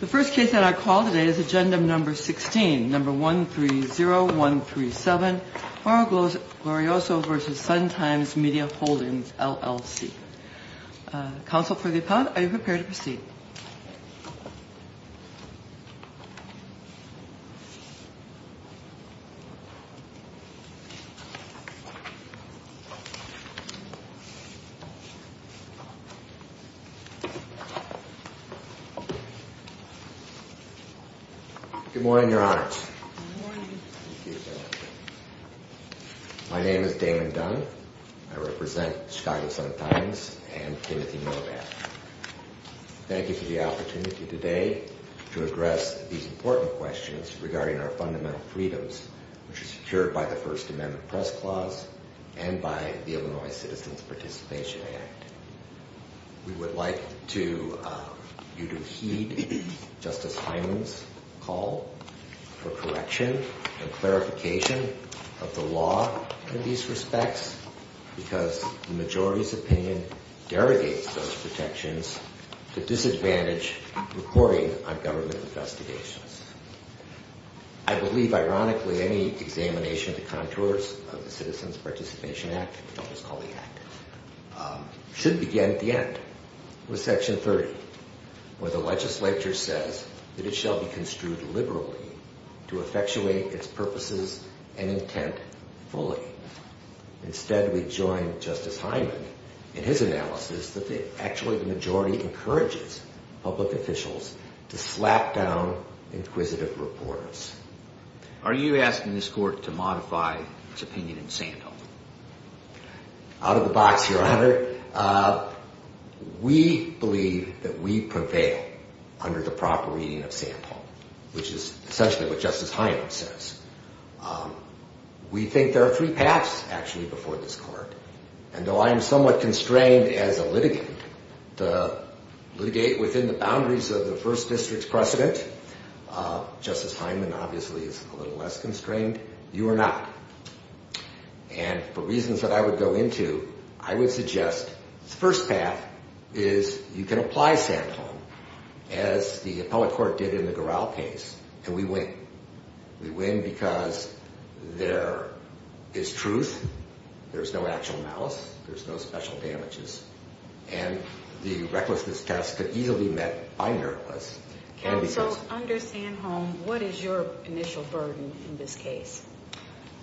The first case that I call today is Agenda Number 16, Number 130137, Mar-a-Glorioso v. Sun-Times Media Holdings, LLC. Counsel for the appellant, are you prepared to proceed? Good morning, your honors. My name is Damon Dunn. I represent the Chicago Sun-Times and Timothy Novak. Thank you for the opportunity today to address these important questions regarding our fundamental freedoms, which are secured by the First Amendment Press Clause and by the Illinois Citizens Participation Act. We would like you to heed Justice Hyman's call for correction and clarification of the law in these respects because the majority's opinion derogates those protections to disadvantage reporting on government investigations. I should begin at the end with Section 30, where the legislature says that it shall be construed liberally to effectuate its purposes and intent fully. Instead, we join Justice Hyman in his analysis that actually the majority encourages public officials to slap down inquisitive reporters. Are you asking this court to modify its opinion in Sandholm? Out of the box, your honor. We believe that we prevail under the proper reading of Sandholm, which is essentially what Justice Hyman says. We think there are three paths, actually, before this court, and though I am somewhat constrained as a litigant to litigate within the boundaries of the First District's precedent, Justice Hyman obviously is a little less constrained. You are not. And for reasons that I would go into, I would suggest the first path is you can apply Sandholm as the appellate court did in the Gural case, and we win. We win because there is truth, there's no actual malice, there's no special damages, and the recklessness test could easily be met by either of us. Counsel, under Sandholm, what is your initial burden in this case?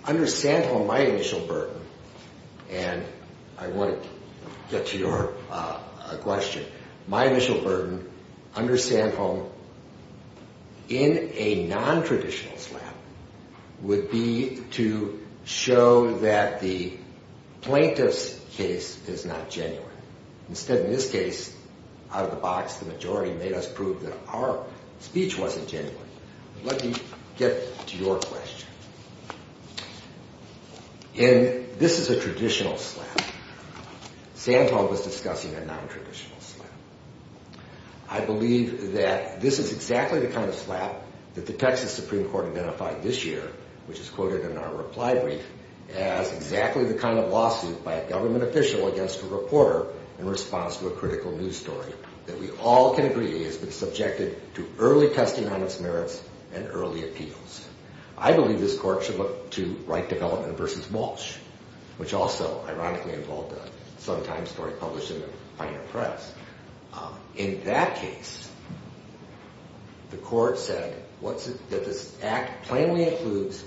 Under Sandholm, my initial burden, and I want to get to your question, my initial burden under Sandholm in a non-traditional slap would be to show that the plaintiff's case is not genuine. Instead, in this case, out of the box, the majority made us prove that our speech wasn't genuine. Let me get to your question. In this is a traditional slap. Sandholm was discussing a non-traditional slap. I believe that this is exactly the kind of slap that the Texas Supreme Court identified this year, which is quoted in our reply brief, as exactly the kind of lawsuit by a government official against a reporter in response to a critical news story that we all can agree has been subjected to early testing on its merits and early appeals. I believe this court should look to Wright Development v. Walsh, which also, ironically, involved a sometime story published in the Pioneer Press. In that case, the court said, what's it, that this act plainly includes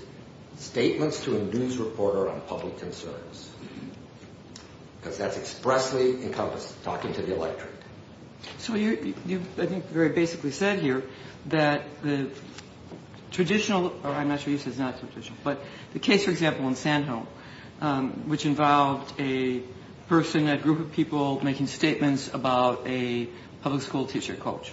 statements to a news reporter on public concerns. Because that's expressly encompassed, talking to the electorate. So you, I think, very basically said here that the traditional, or I'm not sure you said it's not traditional, but the case, for example, in Sandholm, which involved a person, a group of people, making statements about a public school teacher coach,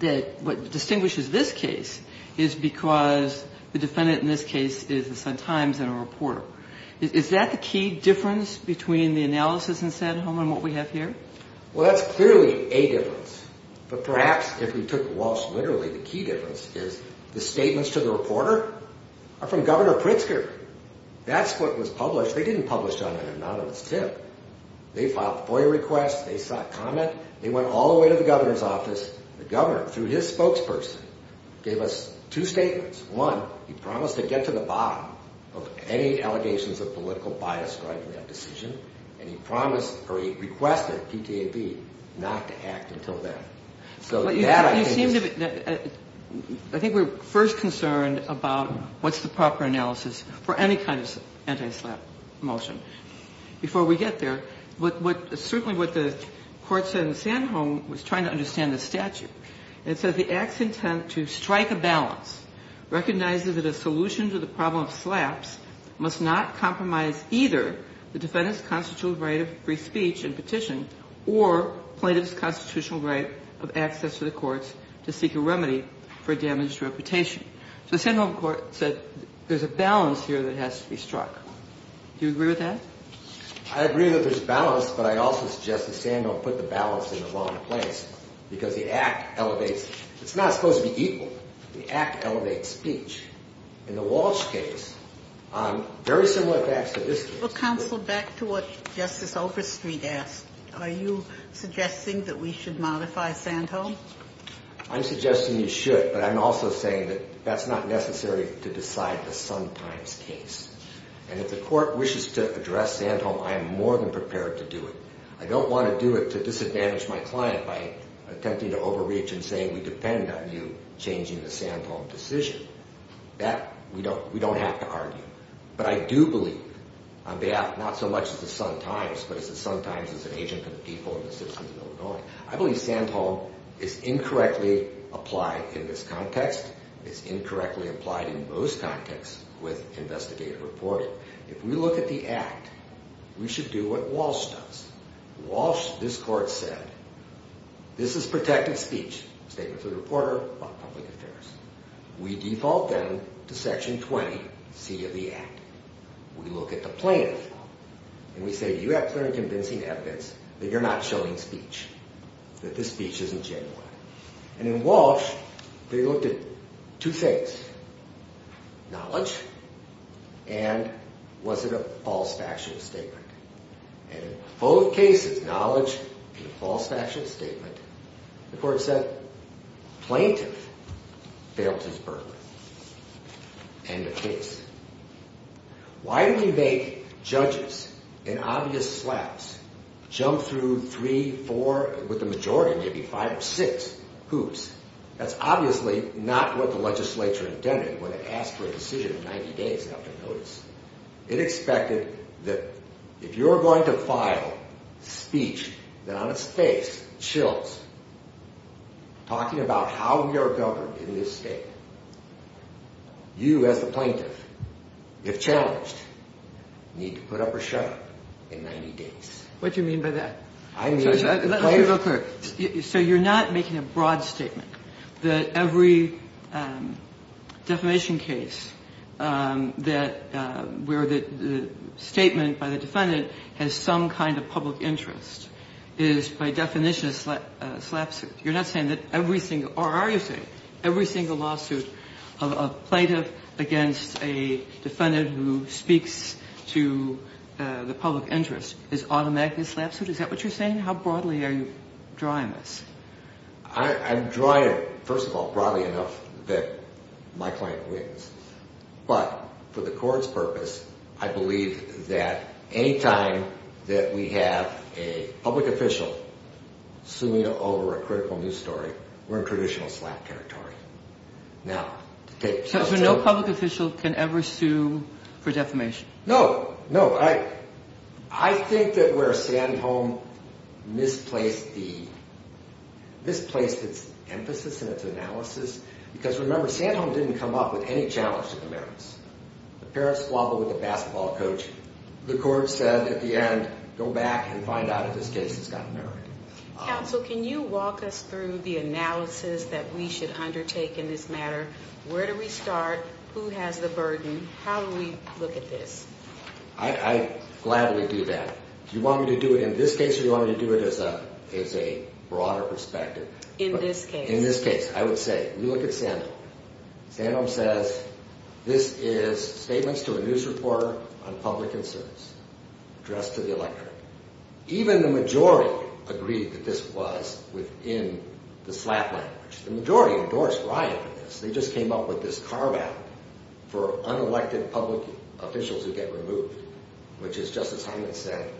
that what distinguishes this case is because the defendant in this case is the Sun-Times and a reporter. Is that the key difference between the analysis in Sandholm and what we have here? Well, that's clearly a difference. But perhaps if we took Walsh literally, the key difference is the statements to the reporter are from Governor Pritzker. That's what was published. They didn't publish on an anonymous tip. They filed FOIA requests. They sought comment. They went all the way to the governor's office. The governor, through his spokesperson, gave us two statements. One, he promised to get to the bottom of any allegations of political bias regarding that decision, and he promised, or he requested, PTAB not to act until then. So that, I think, is… But you seem to be, I think we're first concerned about what's the proper analysis for any kind of anti-SLAPP motion. Before we get there, certainly what the court said in Sandholm was trying to understand the statute. It says the act's intent to strike a balance recognizes that a solution to the problem of SLAPPs must not compromise either the defendant's constitutional right of free speech and petition or plaintiff's constitutional right of access to the courts to seek a remedy for a damaged reputation. So the Sandholm court said there's a balance here that has to be struck. Do you agree with that? I agree that there's balance, but I also suggest that Sandholm put the balance in the wrong place, because the act elevates – it's not supposed to be equal. The act elevates speech. In the Walsh case, very similar facts to this case. Let me give counsel back to what Justice Overstreet asked. Are you suggesting that we should modify Sandholm? I'm suggesting you should, but I'm also saying that that's not necessary to decide the sometimes case. And if the court wishes to address Sandholm, I am more than prepared to do it. I don't want to do it to disadvantage my client by attempting to overreach and saying we depend on you changing the Sandholm decision. That, we don't have to argue. But I do believe on behalf – not so much as the sometimes, but as the sometimes as an agent of the people and the citizens of Illinois – I believe Sandholm is incorrectly applied in this context. It's incorrectly applied in most contexts with investigative reporting. If we look at the act, we should do what Walsh does. Walsh, this court said, this is protective speech, statements of the reporter about public affairs. We default then to section 20C of the act. We look at the plaintiff, and we say you have clear and convincing evidence that you're not showing speech, that this speech isn't genuine. And in Walsh, they looked at two things, knowledge and was it a false factual statement. And in both cases, knowledge and a false factual statement, the court said plaintiff failed his burden and the case. Why do we make judges in obvious slaps jump through three, four, with the majority maybe five or six hoops? That's obviously not what the legislature intended when it asked for a decision 90 days after notice. It expected that if you're going to file speech that on its face chills, talking about how we are governed in this state, you as the plaintiff, if challenged, need to put up or shut up in 90 days. So, you're not making a broad statement that every defamation case that where the statement by the defendant has some kind of public interest is by definition a slap suit. You're not saying that every single or are you saying every single lawsuit of a plaintiff against a defendant who speaks to the public interest is automatically a slap suit? Is that what you're saying? How broadly are you drawing this? I'm drawing it, first of all, broadly enough that my client wins. But for the court's purpose, I believe that any time that we have a public official suing over a critical news story, we're in traditional slap territory. So, no public official can ever sue for defamation? No, no. I think that where Sandholm misplaced the, misplaced its emphasis and its analysis, because remember, Sandholm didn't come up with any challenge to the merits. The parents squabbled with the basketball coach. The court said at the end, go back and find out if this case has got merit. Counsel, can you walk us through the analysis that we should undertake in this matter? Where do we start? Who has the burden? How do we look at this? I gladly do that. Do you want me to do it in this case or do you want me to do it as a broader perspective? In this case. In this case, I would say, we look at Sandholm. Sandholm says, this is statements to a news reporter on public concerns addressed to the electorate. Even the majority agreed that this was within the slap language. The majority endorsed Ryan for this. They just came up with this carve-out for unelected public officials who get removed, which, as Justice Hyndman said,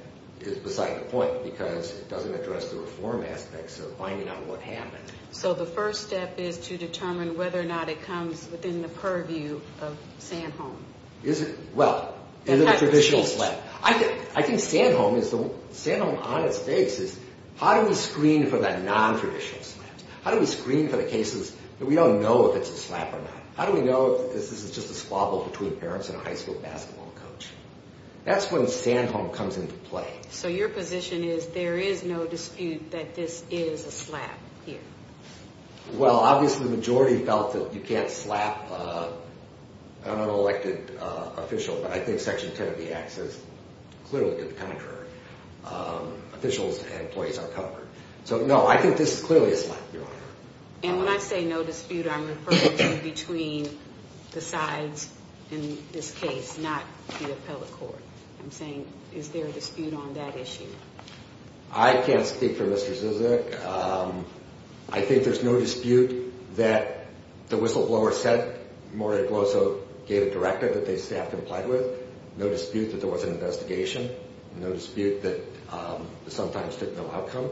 is beside the point because it doesn't address the reform aspects of finding out what happened. So the first step is to determine whether or not it comes within the purview of Sandholm. Is it? Well, is it a traditional slap? I think Sandholm on its face is, how do we screen for the non-traditional slaps? How do we screen for the cases that we don't know if it's a slap or not? How do we know if this is just a squabble between parents and a high school basketball coach? That's when Sandholm comes into play. So your position is there is no dispute that this is a slap here? Well, obviously the majority felt that you can't slap an unelected official, but I think Section 10 of the Act says clearly to the contrary. Officials and employees are covered. So no, I think this is clearly a slap, Your Honor. And when I say no dispute, I'm referring to between the sides in this case, not the appellate court. I'm saying is there a dispute on that issue? I can't speak for Mr. Zizek. I think there's no dispute that the whistleblower said Moria Gloso gave a directive that they staff complied with, no dispute that there was an investigation, no dispute that sometimes took no outcome.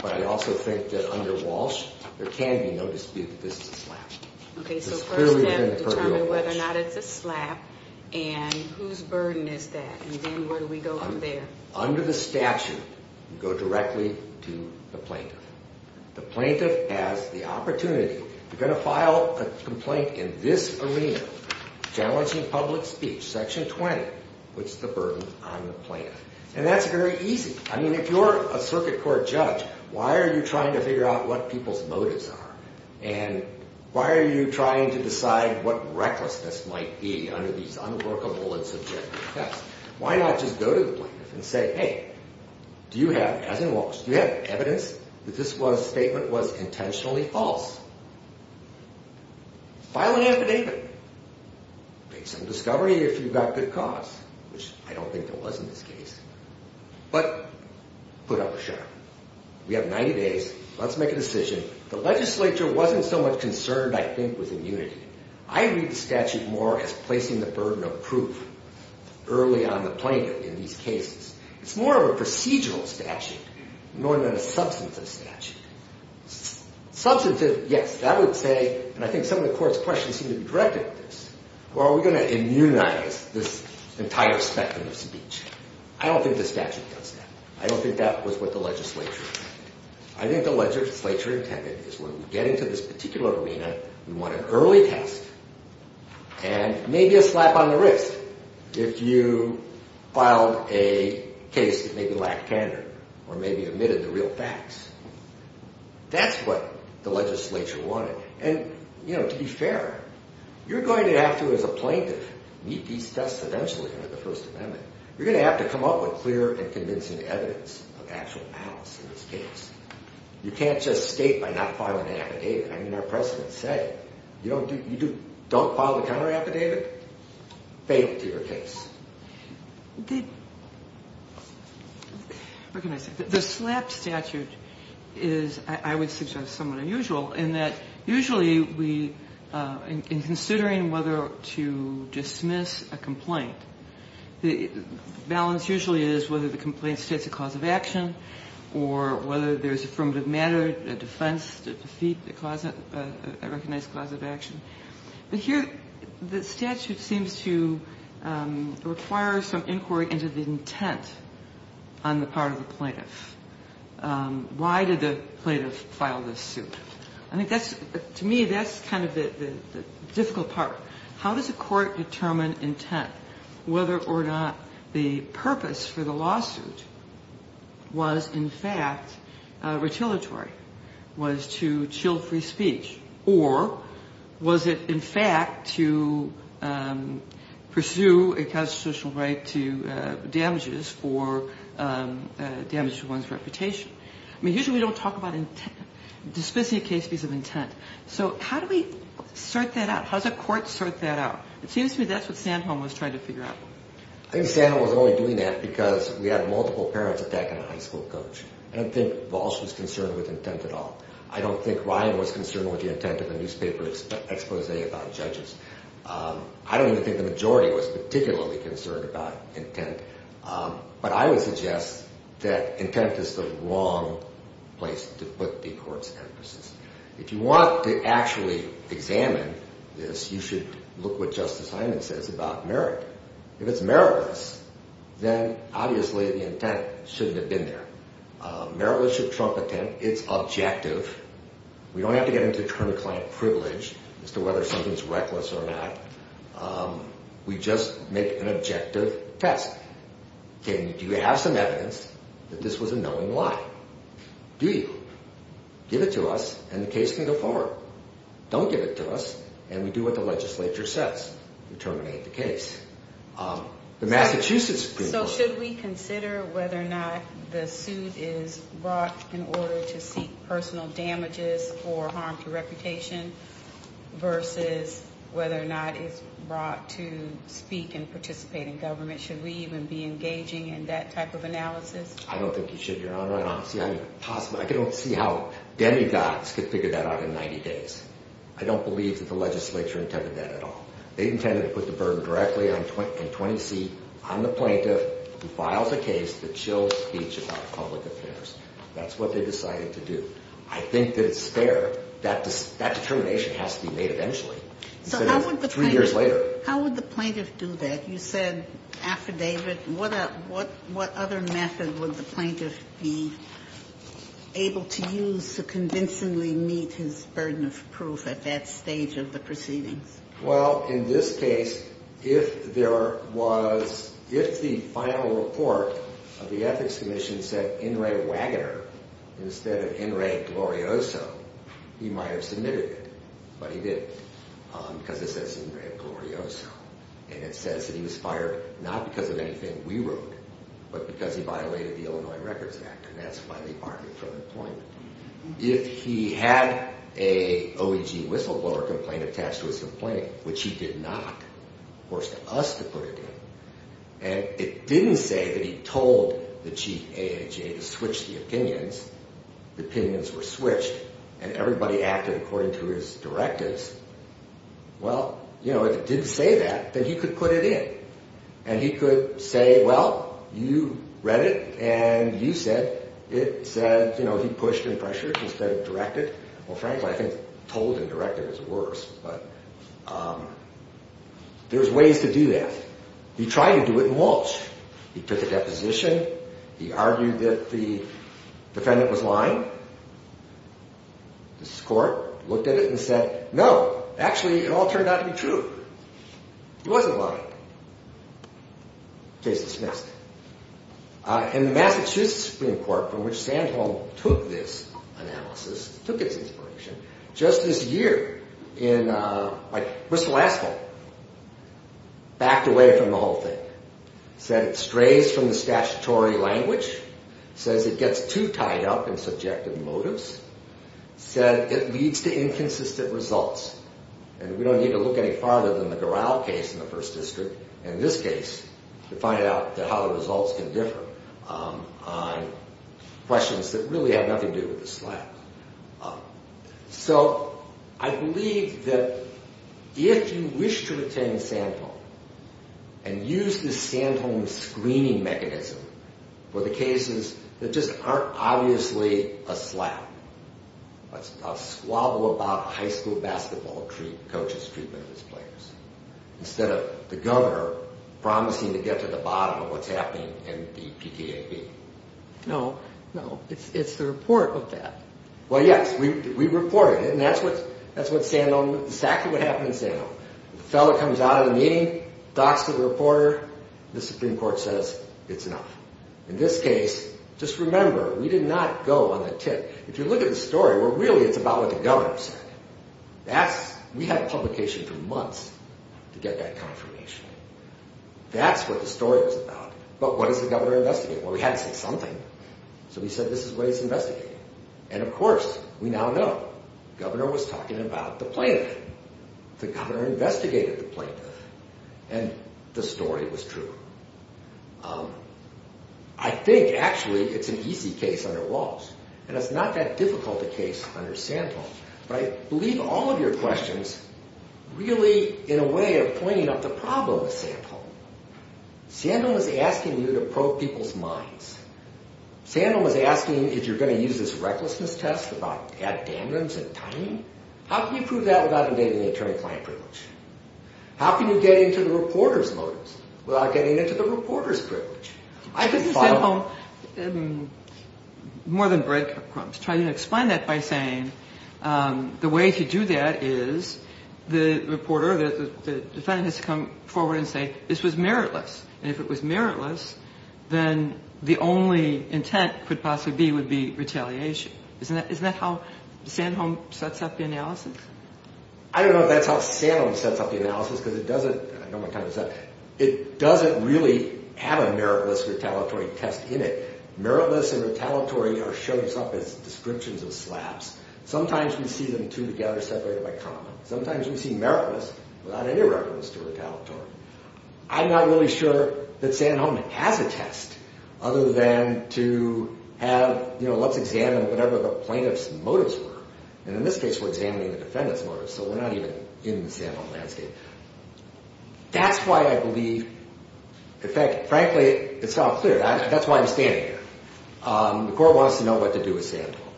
But I also think that under Walsh, there can be no dispute that this is a slap. Okay, so first step, determine whether or not it's a slap, and whose burden is that? And then where do we go from there? Under the statute, go directly to the plaintiff. The plaintiff has the opportunity. You're going to file a complaint in this arena challenging public speech. Section 20 puts the burden on the plaintiff. And that's very easy. I mean, if you're a circuit court judge, why are you trying to figure out what people's motives are? And why are you trying to decide what recklessness might be under these unworkable and subjective effects? Why not just go to the plaintiff and say, hey, do you have, as in Walsh, do you have evidence that this statement was intentionally false? File an affidavit. Make some discovery if you've got good cause, which I don't think there was in this case. But put up a shot. We have 90 days. Let's make a decision. The legislature wasn't so much concerned, I think, with immunity. I read the statute more as placing the burden of proof early on the plaintiff in these cases. It's more of a procedural statute more than a substantive statute. Substantive, yes, that would say, and I think some of the court's questions seem to be directed at this. Well, are we going to immunize this entire spectrum of speech? I don't think the statute does that. I don't think that was what the legislature intended. I think the legislature intended is when we get into this particular arena, we want an early test and maybe a slap on the wrist. If you filed a case that maybe lacked candor or maybe admitted the real facts, that's what the legislature wanted. To be fair, you're going to have to, as a plaintiff, meet these tests eventually under the First Amendment. You're going to have to come up with clear and convincing evidence of actual malice in this case. You can't just state by not filing an affidavit. I mean, our precedent said, you don't file the counter affidavit, fatal to your case. The slap statute is, I would suggest, somewhat unusual in that usually we, in considering whether to dismiss a complaint, the balance usually is whether the complaint states a cause of action or whether there's affirmative matter, a defense, a defeat, a recognized cause of action. But here the statute seems to require some inquiry into the intent on the part of the plaintiff. Why did the plaintiff file this suit? I think that's, to me, that's kind of the difficult part. How does a court determine intent, whether or not the purpose for the lawsuit was in fact retaliatory, was to shield free speech, or was it, in fact, to pursue a constitutional right to damages for damages to one's reputation? I mean, usually we don't talk about dismissing a case because of intent. So how do we sort that out? How does a court sort that out? It seems to me that's what Sanholm was trying to figure out. I think Sanholm was only doing that because we had multiple parents attacking a high school coach. I don't think Walsh was concerned with intent at all. I don't think Ryan was concerned with the intent of the newspaper expose about judges. I don't even think the majority was particularly concerned about intent. But I would suggest that intent is the wrong place to put the court's emphasis. If you want to actually examine this, you should look what Justice Hyman says about merit. If it's meritless, then obviously the intent shouldn't have been there. Meritless should trump intent. It's objective. We don't have to get into turn-of-client privilege as to whether something's reckless or not. We just make an objective test. Do you have some evidence that this was a knowing lie? Do you? Give it to us, and the case can go forward. Don't give it to us, and we do what the legislature says. We terminate the case. The Massachusetts Supreme Court… So should we consider whether or not the suit is brought in order to seek personal damages or harm to reputation versus whether or not it's brought to speak and participate in government? Should we even be engaging in that type of analysis? I don't think you should, Your Honor. I don't see how it's possible. I don't see how demigods could figure that out in 90 days. I don't believe that the legislature intended that at all. They intended to put the burden directly in 20C on the plaintiff who files a case that shows speech about public affairs. That's what they decided to do. I think that it's fair. That determination has to be made eventually instead of three years later. How would the plaintiff do that? You said affidavit. What other method would the plaintiff be able to use to convincingly meet his burden of proof at that stage of the proceedings? Well, in this case, if there was – if the final report of the Ethics Commission said In re Wagoner instead of In re Glorioso, he might have submitted it, but he didn't because it says In re Glorioso, and it says that he was fired not because of anything we wrote, but because he violated the Illinois Records Act, and that's why they barred him from employment. If he had a OEG whistleblower complaint attached to his complaint, which he did not, forced us to put it in, and it didn't say that he told the chief AHA to switch the opinions, the opinions were switched, and everybody acted according to his directives, well, you know, if it didn't say that, then he could put it in, and he could say, well, you read it, and you said it said, you know, he pushed and pressured instead of directed. Well, frankly, I think told and directed is worse, but there's ways to do that. He tried to do it in Walsh. He put the deposition. He argued that the defendant was lying. This court looked at it and said, no, actually, it all turned out to be true. He wasn't lying. Case dismissed. And the Massachusetts Supreme Court, from which Sandholm took this analysis, took its inspiration, just this year, in Bristol-Asphold, backed away from the whole thing. Said it strays from the statutory language. Says it gets too tied up in subjective motives. Said it leads to inconsistent results, and we don't need to look any farther than the Doral case in the 1st District, and in this case, to find out how the results can differ on questions that really have nothing to do with the slaps. So I believe that if you wish to retain Sandholm and use the Sandholm screening mechanism for the cases that just aren't obviously a slap, a squabble about a high school basketball coach's treatment of his players, instead of the governor promising to get to the bottom of what's happening in the PTAB. No, no, it's the report of that. Well, yes, we reported it, and that's what Sandholm, exactly what happened in Sandholm. The fellow comes out of the meeting, talks to the reporter, the Supreme Court says it's enough. In this case, just remember, we did not go on the tip. If you look at the story, well, really, it's about what the governor said. We had publication for months to get that confirmation. That's what the story was about. But what does the governor investigate? Well, we had to say something, so we said this is what he's investigating. And, of course, we now know. The governor was talking about the plaintiff. The governor investigated the plaintiff, and the story was true. I think, actually, it's an easy case under Walsh, and it's not that difficult a case under Sandholm. But I believe all of your questions really, in a way, are pointing up the problem with Sandholm. Sandholm is asking you to probe people's minds. Sandholm is asking if you're going to use this recklessness test about dad dandrums and timing. How can you prove that without invading the attorney-client privilege? How can you get into the reporter's motives without getting into the reporter's privilege? I think Sandholm more than breadcrumbs tried to explain that by saying the way to do that is the reporter, the defendant, has to come forward and say this was meritless. And if it was meritless, then the only intent could possibly be would be retaliation. Isn't that how Sandholm sets up the analysis? I don't know if that's how Sandholm sets up the analysis because it doesn't really have a meritless retaliatory test in it. Meritless and retaliatory shows up as descriptions of slaps. Sometimes we see them two together separated by a comma. Sometimes we see meritless without any reference to retaliatory. I'm not really sure that Sandholm has a test other than to have, you know, let's examine whatever the plaintiff's motives were. And in this case, we're examining the defendant's motives, so we're not even in the Sandholm landscape. That's why I believe, in fact, frankly, it's not clear. That's why I'm standing here. The court wants to know what to do with Sandholm.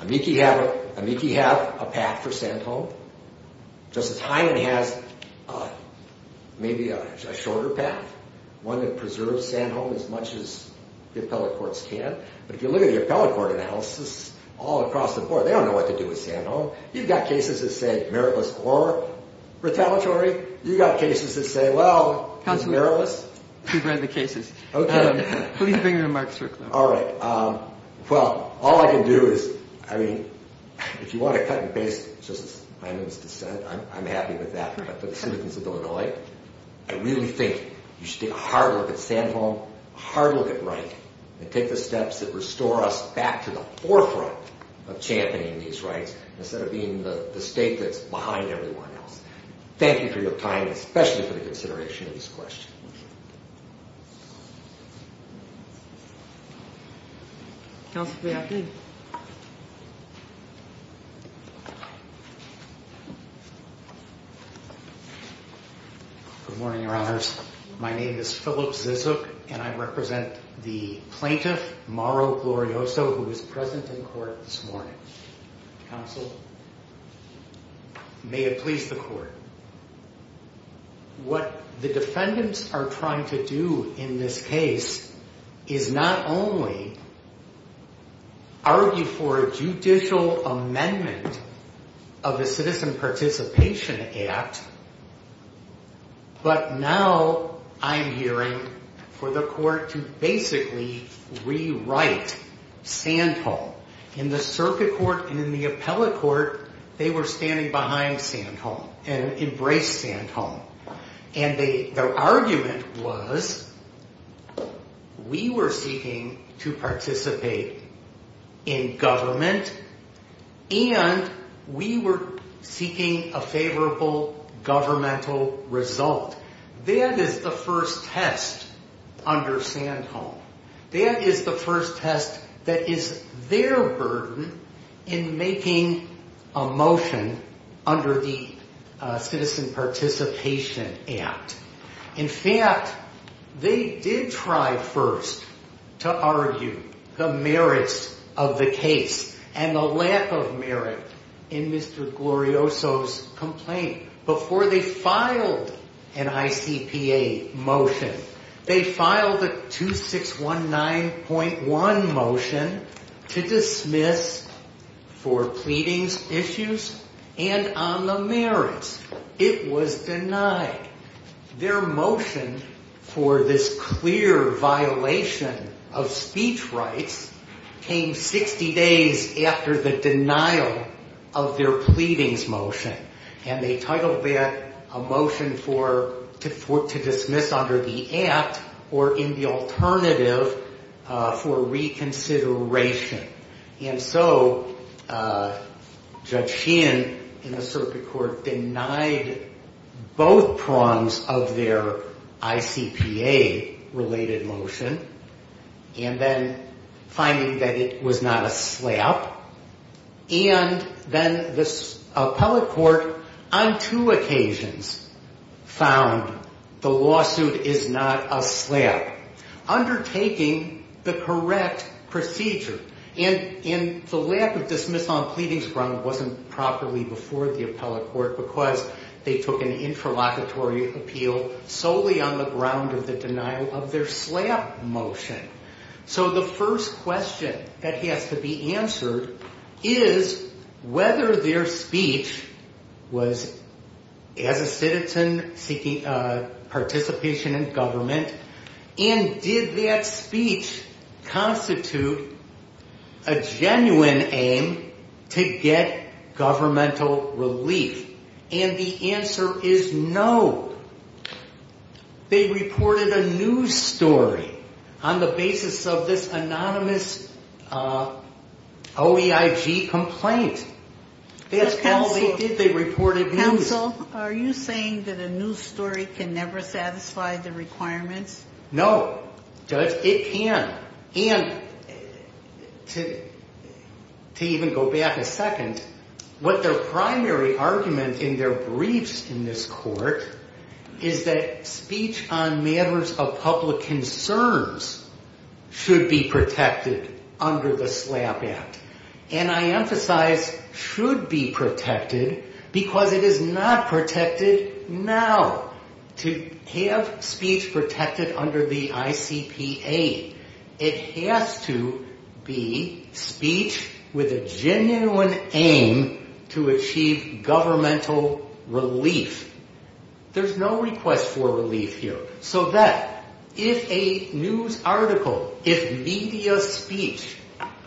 Amici have a path for Sandholm just as Heinen has maybe a shorter path, one that preserves Sandholm as much as the appellate courts can. But if you look at the appellate court analysis all across the board, they don't know what to do with Sandholm. You've got cases that say meritless or retaliatory. You've got cases that say, well, it's meritless. Counselor, you've read the cases. Okay. Please bring your remarks to a close. All right. Well, all I can do is, I mean, if you want to cut and paste Justice Heinen's dissent, I'm happy with that. But the citizens of Illinois, I really think you should take a hard look at Sandholm, a hard look at Wright, and take the steps that restore us back to the forefront of championing these rights instead of being the state that's behind everyone else. Thank you for your time, especially for the consideration of this question. Thank you. Counselor, we are good. Good morning, Your Honors. My name is Philip Zizook, and I represent the plaintiff, Mauro Glorioso, who was present in court this morning. Counsel, may it please the court, what the defendants are trying to do in this case is not only argue for a judicial amendment of the Citizen Participation Act, but now I'm hearing for the court to basically rewrite Sandholm. In the circuit court and in the appellate court, they were standing behind Sandholm and embraced Sandholm. And their argument was, we were seeking to participate in government, and we were seeking a favorable governmental result. That is the first test under Sandholm. That is the first test that is their burden in making a motion under the Citizen Participation Act. In fact, they did try first to argue the merits of the case and the lack of merit in Mr. Glorioso's complaint before they filed an ICPA motion. They filed a 2619.1 motion to dismiss for pleadings issues and on the merits. It was denied. Their motion for this clear violation of speech rights came 60 days after the denial of their pleadings motion. And they titled that a motion to dismiss under the act or in the alternative for reconsideration. And so Judge Sheehan in the circuit court denied both prongs of their ICPA-related motion and then finding that it was not a slap. And then the appellate court on two occasions found the lawsuit is not a slap, undertaking the correct procedure. And the lack of dismiss on pleadings prong wasn't properly before the appellate court because they took an interlocutory appeal solely on the ground of the denial of their slap motion. So the first question that has to be answered is whether their speech was as a citizen seeking participation in government and did that speech constitute a genuine aim to get governmental relief. And the answer is no. They reported a news story on the basis of this anonymous OEIG complaint. That's all they did, they reported news. Counsel, are you saying that a news story can never satisfy the requirements? No, Judge, it can. And to even go back a second, what their primary argument in their briefs in this court is that speech on matters of public concerns should be protected under the slap act. And I emphasize should be protected because it is not protected now to have speech protected under the ICPA. It has to be speech with a genuine aim to achieve governmental relief. There's no request for relief here. So that if a news article, if media speech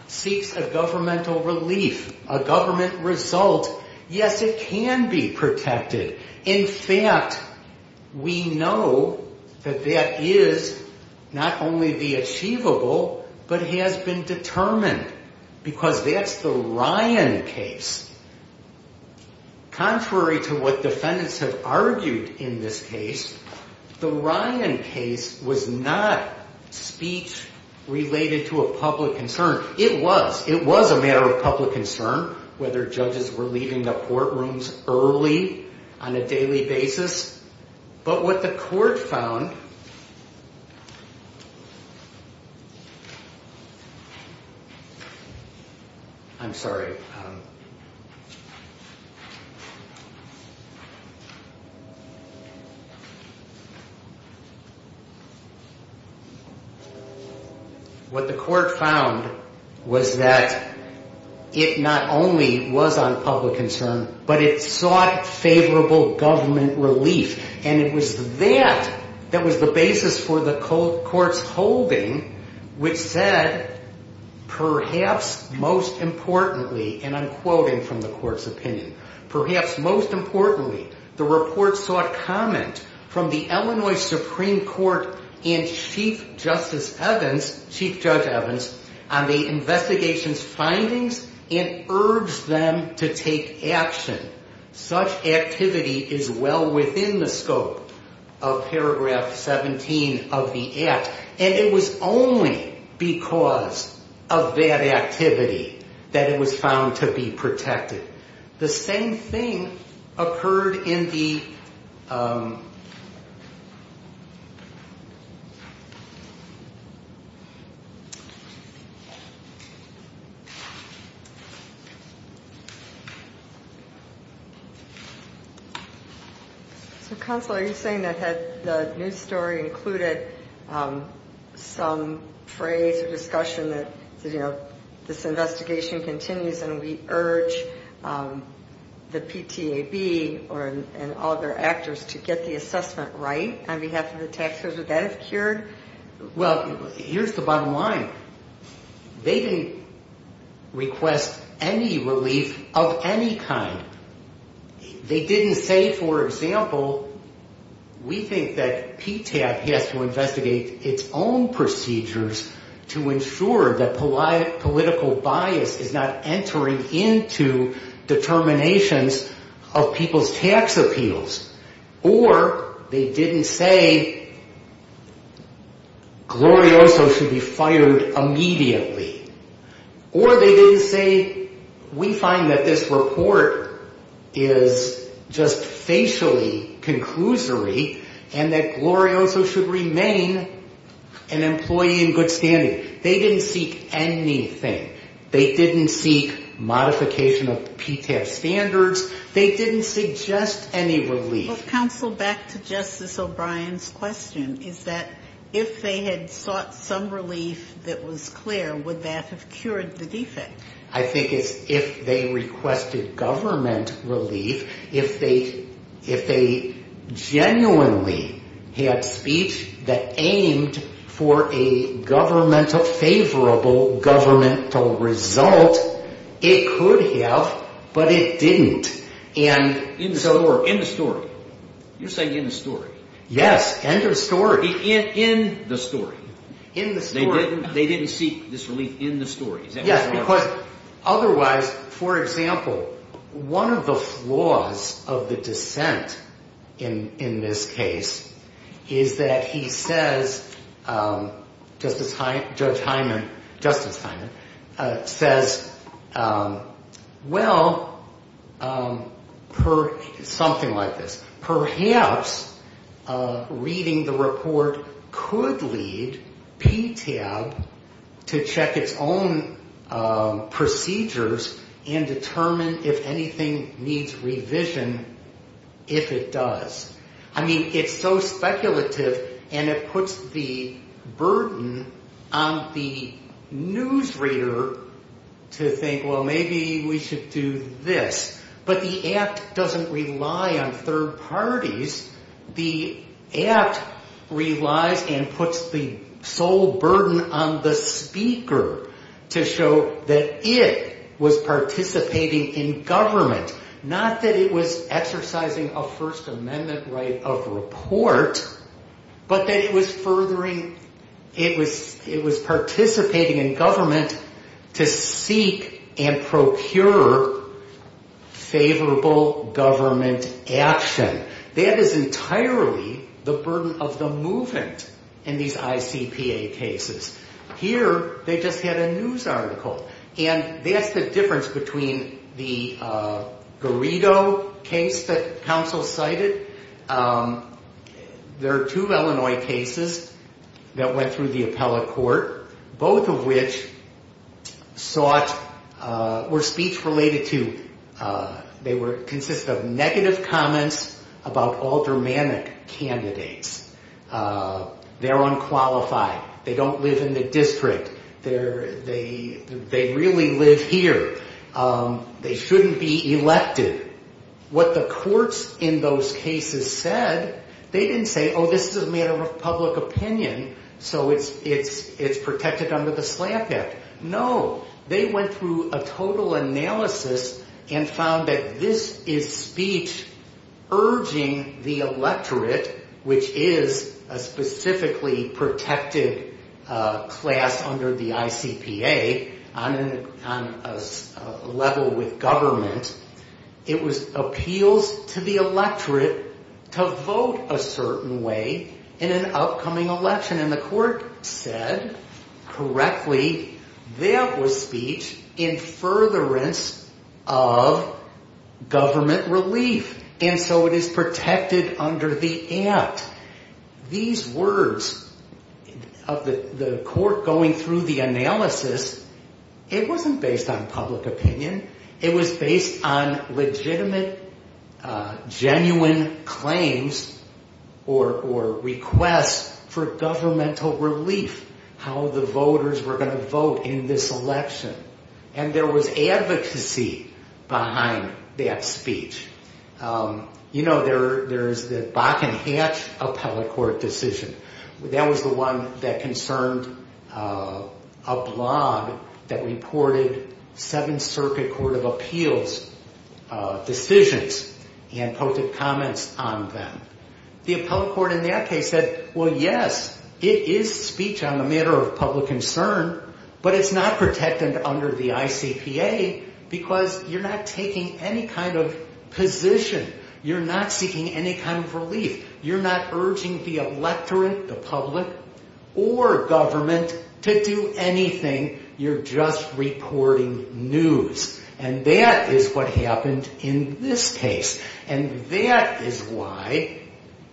seeks a governmental relief, a government result, yes, it can be protected. In fact, we know that that is not only the achievable but has been determined because that's the Ryan case. Contrary to what defendants have argued in this case, the Ryan case was not speech related to a public concern. It was, it was a matter of public concern whether judges were leaving the courtrooms early on a daily basis. But what the court found. I'm sorry. What the court found was that it not only was on public concern, but it sought favorable government relief. And it was that that was the basis for the court's holding, which said, perhaps most importantly, and I'm quoting from the court's opinion. Perhaps most importantly, the report sought comment from the Illinois Supreme Court and Chief Justice Evans, Chief Judge Evans, on the investigation's findings and urged them to take action. Such activity is well within the scope of paragraph 17 of the act. And it was only because of that activity that it was found to be protected. The same thing occurred in the. So, Counselor, are you saying that had the news story included some phrase or discussion that, you know, this investigation continues and we urge the PTAB or and all their actors to get the assessment right on behalf of the taxpayers, would that have cured? Well, here's the bottom line. They didn't request any relief of any kind. They didn't say, for example, we think that PTAB has to investigate its own procedures to ensure that political bias is not entering into determinations of people's tax appeals. Or they didn't say Glorioso should be fired immediately. Or they didn't say we find that this report is just facially conclusory and that Glorioso should remain an employee in good standing. They didn't seek anything. They didn't seek modification of PTAB standards. They didn't suggest any relief. Counsel, back to Justice O'Brien's question. Is that if they had sought some relief that was clear, would that have cured the defect? I think it's if they requested government relief. If they genuinely had speech that aimed for a governmental, favorable governmental result, it could have, but it didn't. In the story. In the story. You're saying in the story. Yes, end of story. In the story. In the story. They didn't seek this relief in the story. Yes, because otherwise, for example, one of the flaws of the dissent in this case is that he says, Judge Hyman, Justice Hyman, says, well, something like this. Perhaps reading the report could lead PTAB to check its own procedures and determine if anything needs revision if it does. I mean, it's so speculative and it puts the burden on the newsreader to think, well, maybe we should do this. But the act doesn't rely on third parties. The act relies and puts the sole burden on the speaker to show that it was participating in government, not that it was exercising a First Amendment right of report, but that it was furthering. It was participating in government to seek and procure favorable government action. That is entirely the burden of the movement in these ICPA cases. Here, they just had a news article. And that's the difference between the Garrido case that counsel cited. There are two Illinois cases that went through the appellate court, both of which sought, were speech related to, they consist of negative comments about aldermanic candidates. They're unqualified. They don't live in the district. They really live here. They shouldn't be elected. What the courts in those cases said, they didn't say, oh, this is a matter of public opinion, so it's protected under the SLAPP Act. No. They went through a total analysis and found that this is speech urging the electorate, which is a specifically protected class under the ICPA on a level with government. It appeals to the electorate to vote a certain way in an upcoming election. And the court said correctly that was speech in furtherance of government relief. And so it is protected under the act. These words of the court going through the analysis, it wasn't based on public opinion. It was based on legitimate, genuine claims or requests for governmental relief, how the voters were going to vote in this election. And there was advocacy behind that speech. You know, there's the Bakken-Hatch appellate court decision. That was the one that concerned a blog that reported Seventh Circuit Court of Appeals decisions and posted comments on them. The appellate court in that case said, well, yes, it is speech on the matter of public concern, but it's not protected under the ICPA because you're not taking any kind of position. You're not seeking any kind of relief. You're not urging the electorate, the public, or government to do anything. You're just reporting news. And that is what happened in this case. And that is why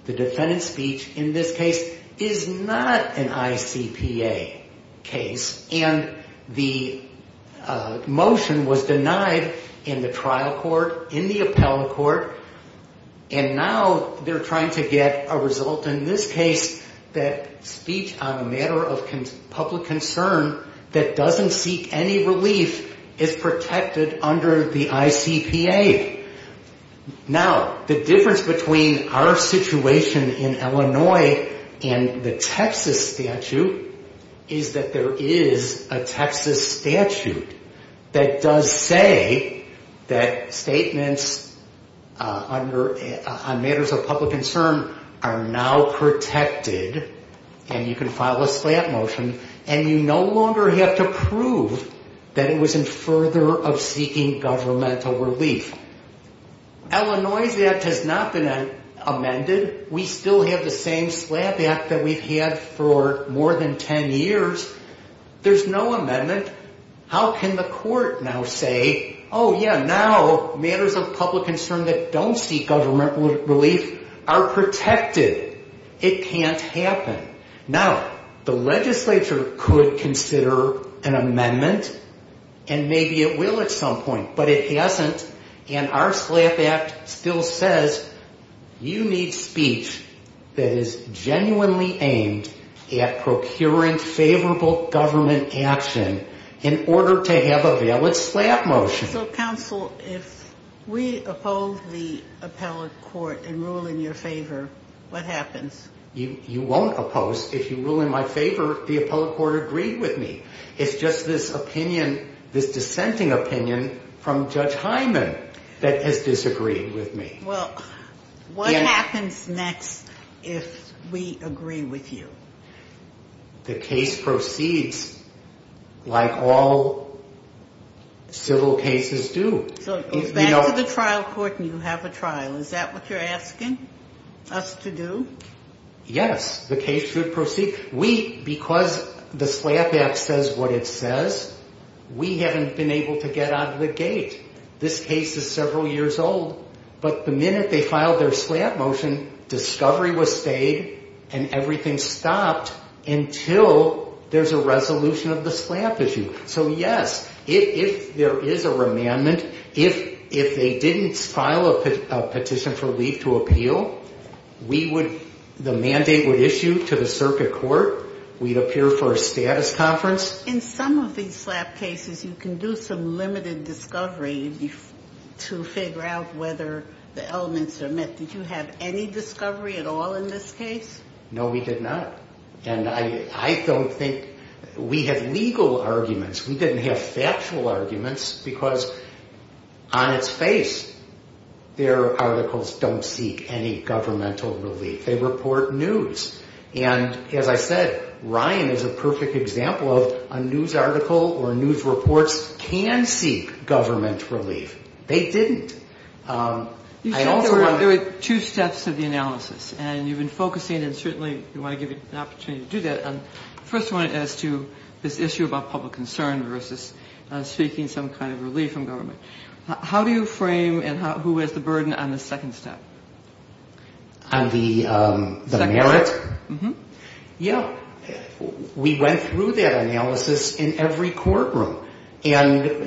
the defendant's speech in this case is not an ICPA case. And the motion was denied in the trial court, in the appellate court. And now they're trying to get a result in this case that speech on the matter of public concern that doesn't seek any relief is protected under the ICPA. Now, the difference between our situation in Illinois and the Texas statute is that there is a Texas statute that does say that statements on matters of public concern are now protected and you can file a slant motion and you no longer have to prove that it was in further of seeking governmental relief. Illinois' act has not been amended. We still have the same slap act that we've had for more than 10 years. There's no amendment. How can the court now say, oh, yeah, now matters of public concern that don't seek governmental relief are protected. It can't happen. Now, the legislature could consider an amendment, and maybe it will at some point, but it hasn't. And our slap act still says you need speech that is genuinely aimed at procuring favorable government action in order to have a valid slap motion. So, counsel, if we oppose the appellate court in ruling your favor, what happens? You won't oppose. If you rule in my favor, the appellate court agreed with me. It's just this opinion, this dissenting opinion from Judge Hyman that has disagreed with me. Well, what happens next if we agree with you? The case proceeds like all civil cases do. So it goes back to the trial court and you have a trial. Is that what you're asking us to do? Yes, the case should proceed. We, because the slap act says what it says, we haven't been able to get out of the gate. This case is several years old. But the minute they filed their slap motion, discovery was stayed and everything stopped until there's a resolution of the slap issue. So, yes, if there is a remandment, if they didn't file a petition for leave to appeal, we would, the mandate would issue to the circuit court. We'd appear for a status conference. In some of these slap cases, you can do some limited discovery to figure out whether the elements are met. Did you have any discovery at all in this case? No, we did not. And I don't think we have legal arguments. We didn't have factual arguments because on its face, their articles don't seek any governmental relief. They report news. And as I said, Ryan is a perfect example of a news article or news reports can seek government relief. They didn't. You said there were two steps of the analysis. And you've been focusing and certainly you want to give you an opportunity to do that. First one is to this issue about public concern versus seeking some kind of relief from government. How do you frame and who has the burden on the second step? On the merit? Yeah. We went through that analysis in every courtroom.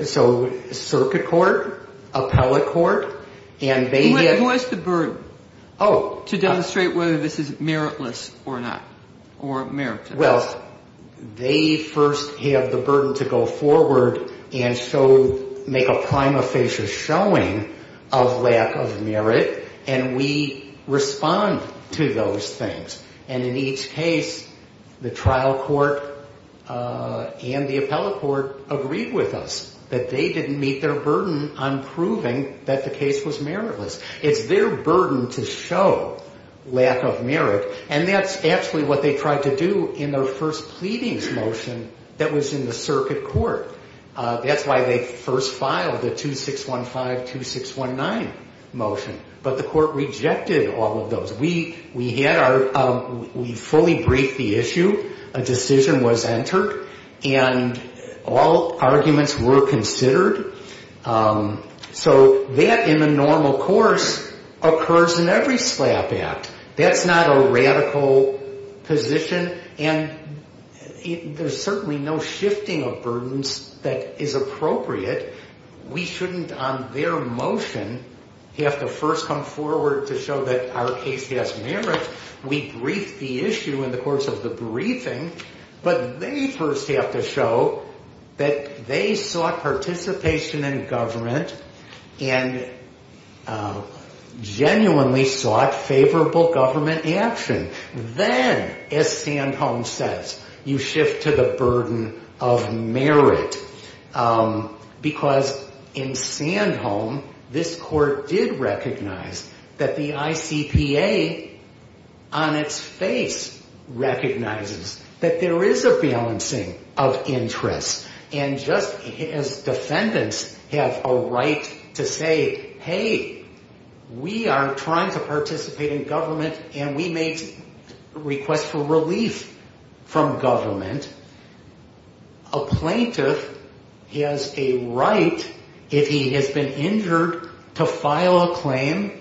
So circuit court, appellate court. Who has the burden to demonstrate whether this is meritless or not or merit? Well, they first have the burden to go forward and so make a prima facie showing of lack of merit. And we respond to those things. And in each case, the trial court and the appellate court agreed with us that they didn't meet their burden on proving that the case was meritless. It's their burden to show lack of merit. And that's actually what they tried to do in their first pleadings motion that was in the circuit court. That's why they first filed the 2615-2619 motion. But the court rejected all of those. We fully break the issue. A decision was entered. And all arguments were considered. So that in the normal course occurs in every slap act. That's not a radical position. And there's certainly no shifting of burdens that is appropriate. We shouldn't on their motion have to first come forward to show that our case has merit. We brief the issue in the course of the briefing. But they first have to show that they sought participation in government and genuinely sought favorable government action. Then, as Sandholm says, you shift to the burden of merit. Because in Sandholm, this court did recognize that the ICPA on its face recognizes that there is a balancing of interests. And just as defendants have a right to say, hey, we are trying to participate in government. And we make requests for relief from government. A plaintiff has a right, if he has been injured, to file a claim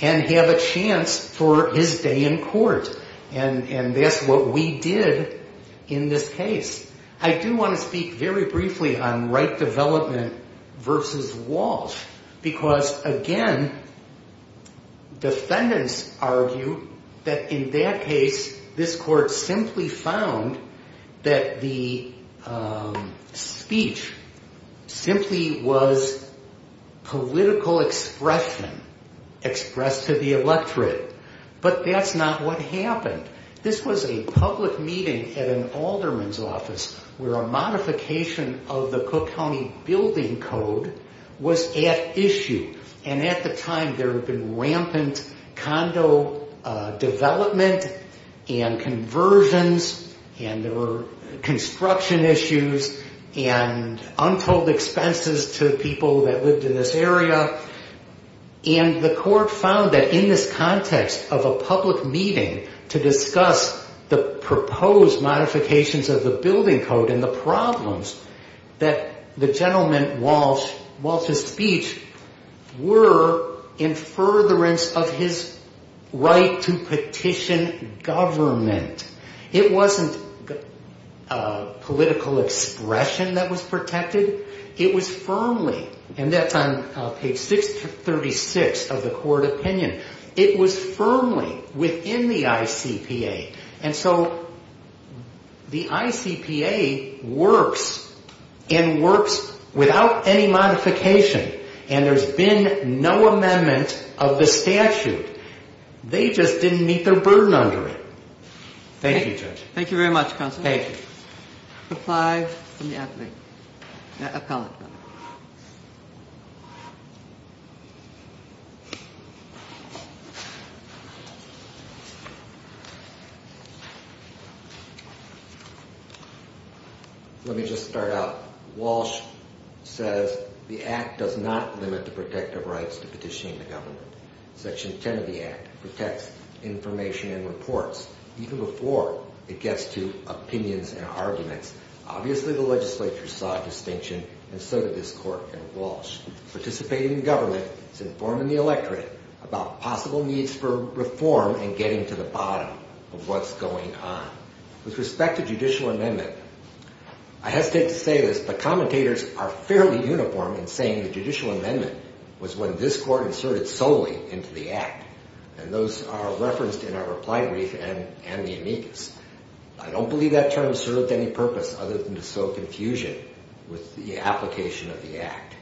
and have a chance for his day in court. And that's what we did in this case. I do want to speak very briefly on right development versus Walsh. Because, again, defendants argue that in that case, this court simply found that the speech simply was political expression expressed to the electorate. But that's not what happened. This was a public meeting at an alderman's office where a modification of the Cook County Building Code was at issue. And at the time, there had been rampant condo development and conversions. And there were construction issues and untold expenses to people that lived in this area. And the court found that in this context of a public meeting to discuss the proposed modifications of the building code and the problems, that the gentleman Walsh's speech were in furtherance of his right to petition government. It wasn't political expression that was protected. It was firmly. And that's on page 636 of the court opinion. It was firmly within the ICPA. And so the ICPA works and works without any modification. And there's been no amendment of the statute. They just didn't meet their burden under it. Thank you, Judge. Thank you very much, Counsel. Thank you. Supply from the appellate. Let me just start out. Walsh says the act does not limit the protective rights to petitioning the government. Section 10 of the act protects information and reports even before it gets to opinions and arguments. Obviously, the legislature saw a distinction, and so did this court and Walsh. Participating in government is informing the electorate about possible needs for reform and getting to the bottom of what's going on. With respect to judicial amendment, I hesitate to say this, but commentators are fairly uniform in saying the judicial amendment was when this court inserted solely into the act, and those are referenced in our reply brief and the amicus. I don't believe that term served any purpose other than to sow confusion with the application of the act.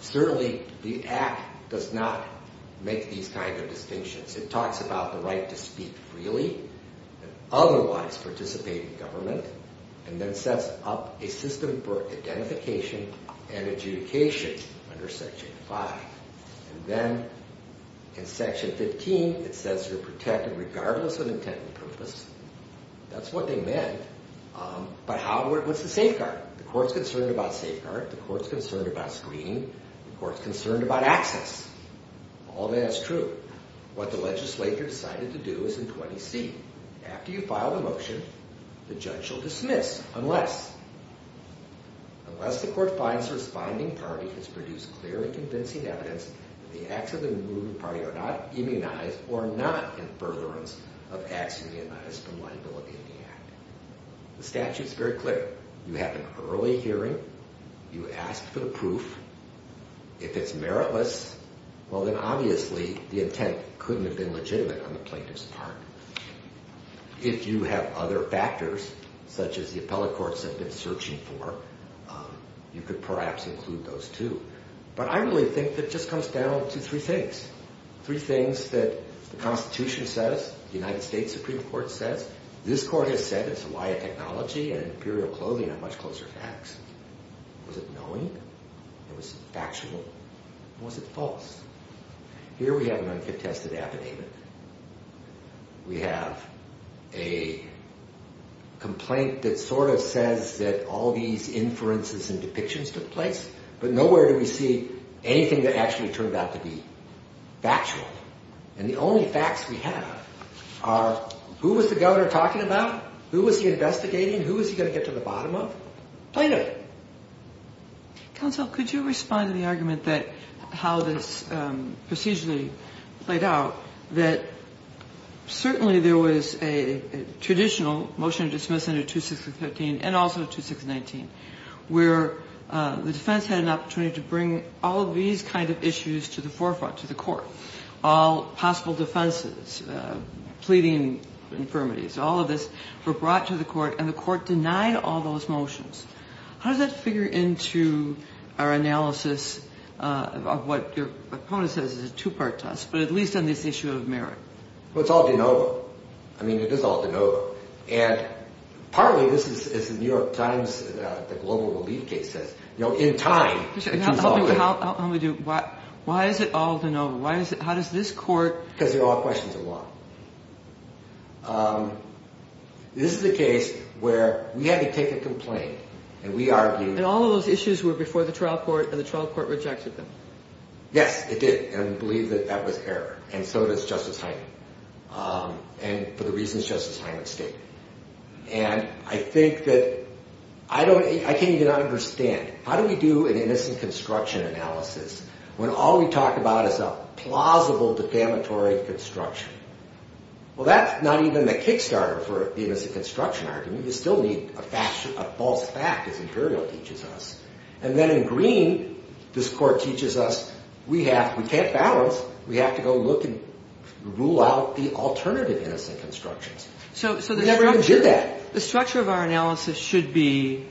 Certainly, the act does not make these kinds of distinctions. It talks about the right to speak freely and otherwise participate in government and then sets up a system for identification and adjudication under Section 5. Then, in Section 15, it says you're protected regardless of intent and purpose. That's what they meant. But what's the safeguard? The court's concerned about safeguard. The court's concerned about screening. The court's concerned about access. All that's true. What the legislature decided to do is in 20C. After you file a motion, the judge will dismiss unless the court finds the responding party has produced clear and convincing evidence that the acts of the removed party are not immunized or not in furtherance of acts immunized from liability in the act. The statute's very clear. You have an early hearing. You ask for the proof. If it's meritless, well, then obviously the intent couldn't have been legitimate on the plaintiff's part. If you have other factors, such as the appellate courts have been searching for, you could perhaps include those, too. But I really think that it just comes down to three things. Three things that the Constitution says, the United States Supreme Court says, this court has said it's a lie of technology and imperial clothing are much closer facts. Was it knowing? Was it factual? Was it false? Here we have an uncontested affidavit. We have a complaint that sort of says that all these inferences and depictions took place, but nowhere do we see anything that actually turned out to be factual. And the only facts we have are who was the governor talking about, who was he investigating, who was he going to get to the bottom of? Plaintiff. Counsel, could you respond to the argument that how this procedurally played out, that certainly there was a traditional motion to dismiss under 2613 and also 2619, where the defense had an opportunity to bring all of these kind of issues to the forefront, to the court. All possible defenses, pleading infirmities, all of this were brought to the court, and the court denied all those motions. How does that figure into our analysis of what your opponent says is a two-part test, but at least on this issue of merit? Well, it's all de novo. I mean, it is all de novo. And partly this is, as the New York Times, the global relief case says, you know, in time, it was all there. How do we do – why is it all de novo? Why is it – how does this court – Because they're all questions of why. This is a case where we had to take a complaint, and we argued – And all of those issues were before the trial court, and the trial court rejected them. Yes, it did, and we believe that that was error, and so does Justice Hyman, and for the reasons Justice Hyman stated. And I think that – I can't even understand. How do we do an innocent construction analysis when all we talk about is a plausible defamatory construction? Well, that's not even the kickstarter for the innocent construction argument. You still need a false fact, as Imperial teaches us. And then in Green, this court teaches us we have – we can't balance. We have to go look and rule out the alternative innocent constructions. We never even did that. The structure of our analysis should be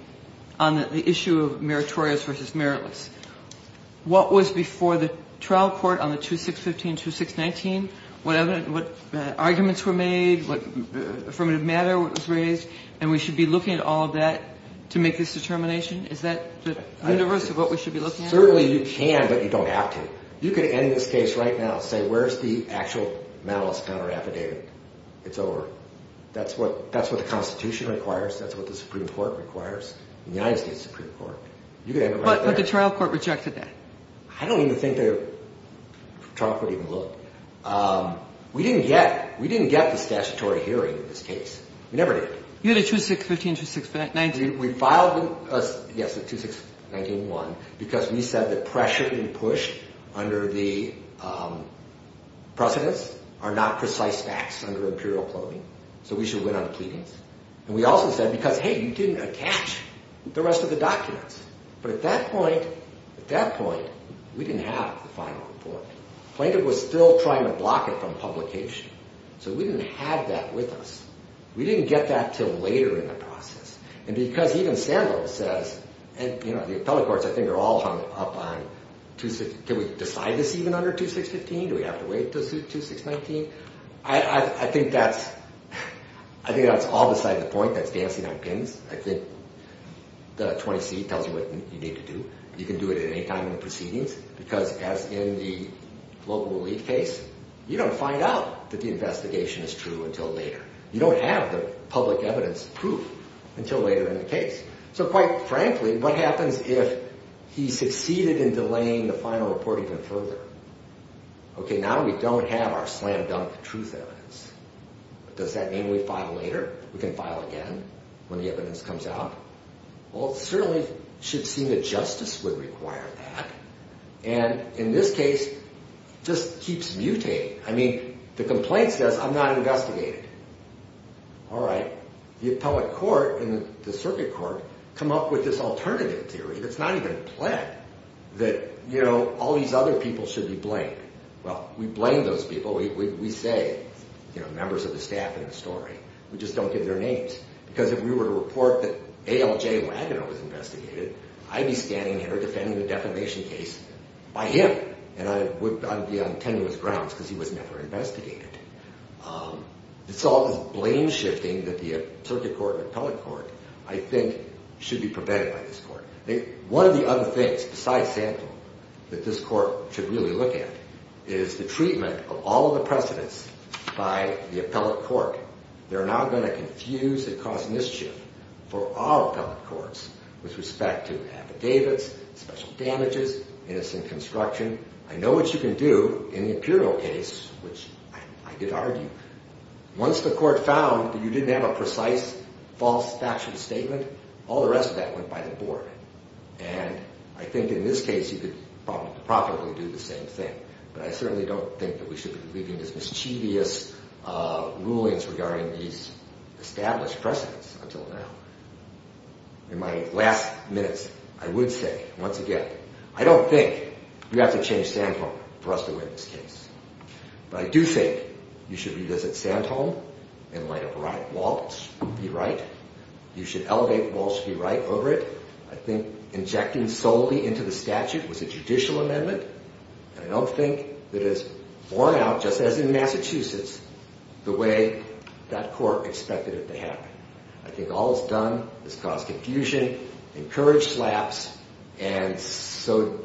on the issue of meritorious versus meritless. What was before the trial court on the 2615, 2619? What arguments were made? What affirmative matter was raised? And we should be looking at all of that to make this determination? Is that the universe of what we should be looking at? Certainly you can, but you don't have to. You could end this case right now and say, where's the actual malice counteraffidavit? It's over. That's what the Constitution requires. That's what the Supreme Court requires in the United States Supreme Court. But the trial court rejected that. I don't even think the trial court even looked. We didn't get the statutory hearing in this case. We never did. You had a 2615, 2619. We filed the 2619-1 because we said that pressure and push under the precedents are not precise facts under imperial cloning. So we should win on the pleadings. And we also said because, hey, you didn't attach the rest of the documents. But at that point, at that point, we didn't have the final report. Plaintiff was still trying to block it from publication. So we didn't have that with us. We didn't get that until later in the process. And because even Sandlow says, and, you know, the appellate courts, I think, are all hung up on can we decide this even under 2615? Do we have to wait until 2619? I think that's all beside the point. That's dancing on pins. I think the 20C tells you what you need to do. You can do it at any time in the proceedings because, as in the global elite case, you don't find out that the investigation is true until later. You don't have the public evidence proof until later in the case. So quite frankly, what happens if he succeeded in delaying the final report even further? Okay, now we don't have our slam-dunk truth evidence. Does that mean we file later? We can file again when the evidence comes out? Well, it certainly should seem that justice would require that. And in this case, it just keeps mutating. I mean, the complaint says I'm not investigated. All right, the appellate court and the circuit court come up with this alternative theory that's not even pled that, you know, all these other people should be blamed. Well, we blame those people. We say, you know, members of the staff in the story. We just don't give their names because if we were to report that ALJ Wagoner was investigated, I'd be standing here defending the defamation case by him. And I'd be on tenuous grounds because he was never investigated. It's all this blame-shifting that the circuit court and appellate court, I think, should be prevented by this court. One of the other things, besides sample, that this court should really look at is the treatment of all of the precedents by the appellate court. They're now going to confuse and cause mischief for all appellate courts with respect to affidavits, special damages, innocent construction. I know what you can do in the imperial case, which I did argue. Once the court found that you didn't have a precise false factual statement, all the rest of that went by the board. And I think in this case, you could probably do the same thing. But I certainly don't think that we should be leaving this mischievous rulings regarding these established precedents until now. In my last minutes, I would say, once again, I don't think you have to change Sandholm for us to win this case. But I do think you should revisit Sandholm in light of Walsh v. Wright. You should elevate Walsh v. Wright over it. I think injecting solely into the statute was a judicial amendment. And I don't think it is borne out, just as in Massachusetts, the way that court expected it to happen. I think all it's done is cause confusion, encourage slaps, and sow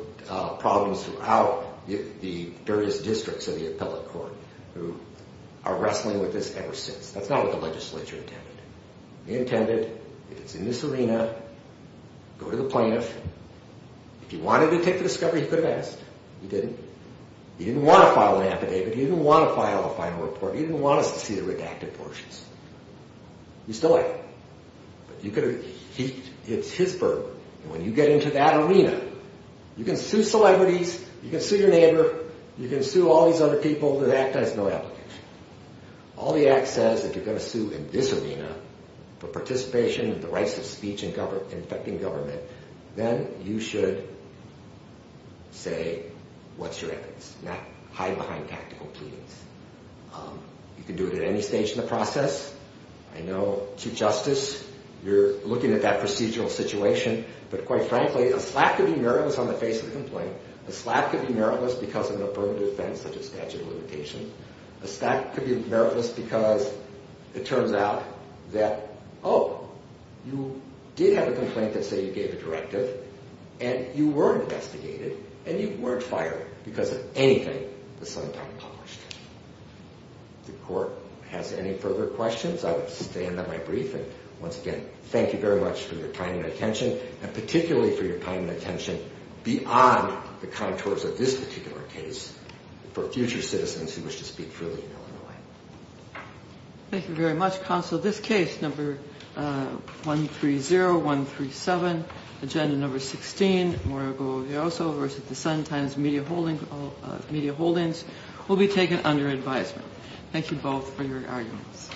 problems throughout the various districts of the appellate court who are wrestling with this ever since. That's not what the legislature intended. They intended, if it's in this arena, go to the plaintiff. If you wanted to take the discovery, you could have asked. You didn't. You didn't want to file an affidavit. You didn't want to file a final report. You didn't want us to see the redacted portions. You still have it. But you could have, it's his burger. And when you get into that arena, you can sue celebrities, you can sue your neighbor, you can sue all these other people. The act has no application. All the act says, if you're going to sue in this arena for participation in the rights of speech in effecting government, then you should say, what's your ethics? Not hide behind tactical pleadings. You can do it at any stage in the process. I know, to justice, you're looking at that procedural situation. But quite frankly, a slap could be merilous on the face of the complaint. A slap could be merilous because of an affirmative defense such as statute of limitation. A slap could be merilous because it turns out that, oh, you did have a complaint that said you gave a directive. And you were investigated. And you weren't fired because of anything that's been published. If the court has any further questions, I will stand on my brief. And once again, thank you very much for your time and attention, and particularly for your time and attention beyond the contours of this particular case. For future citizens who wish to speak freely in Illinois. Thank you very much, counsel. This case, number 130137, agenda number 16, Morrigo Ovioso v. The Sun Times Media Holdings, will be taken under advisement. Thank you both for your arguments.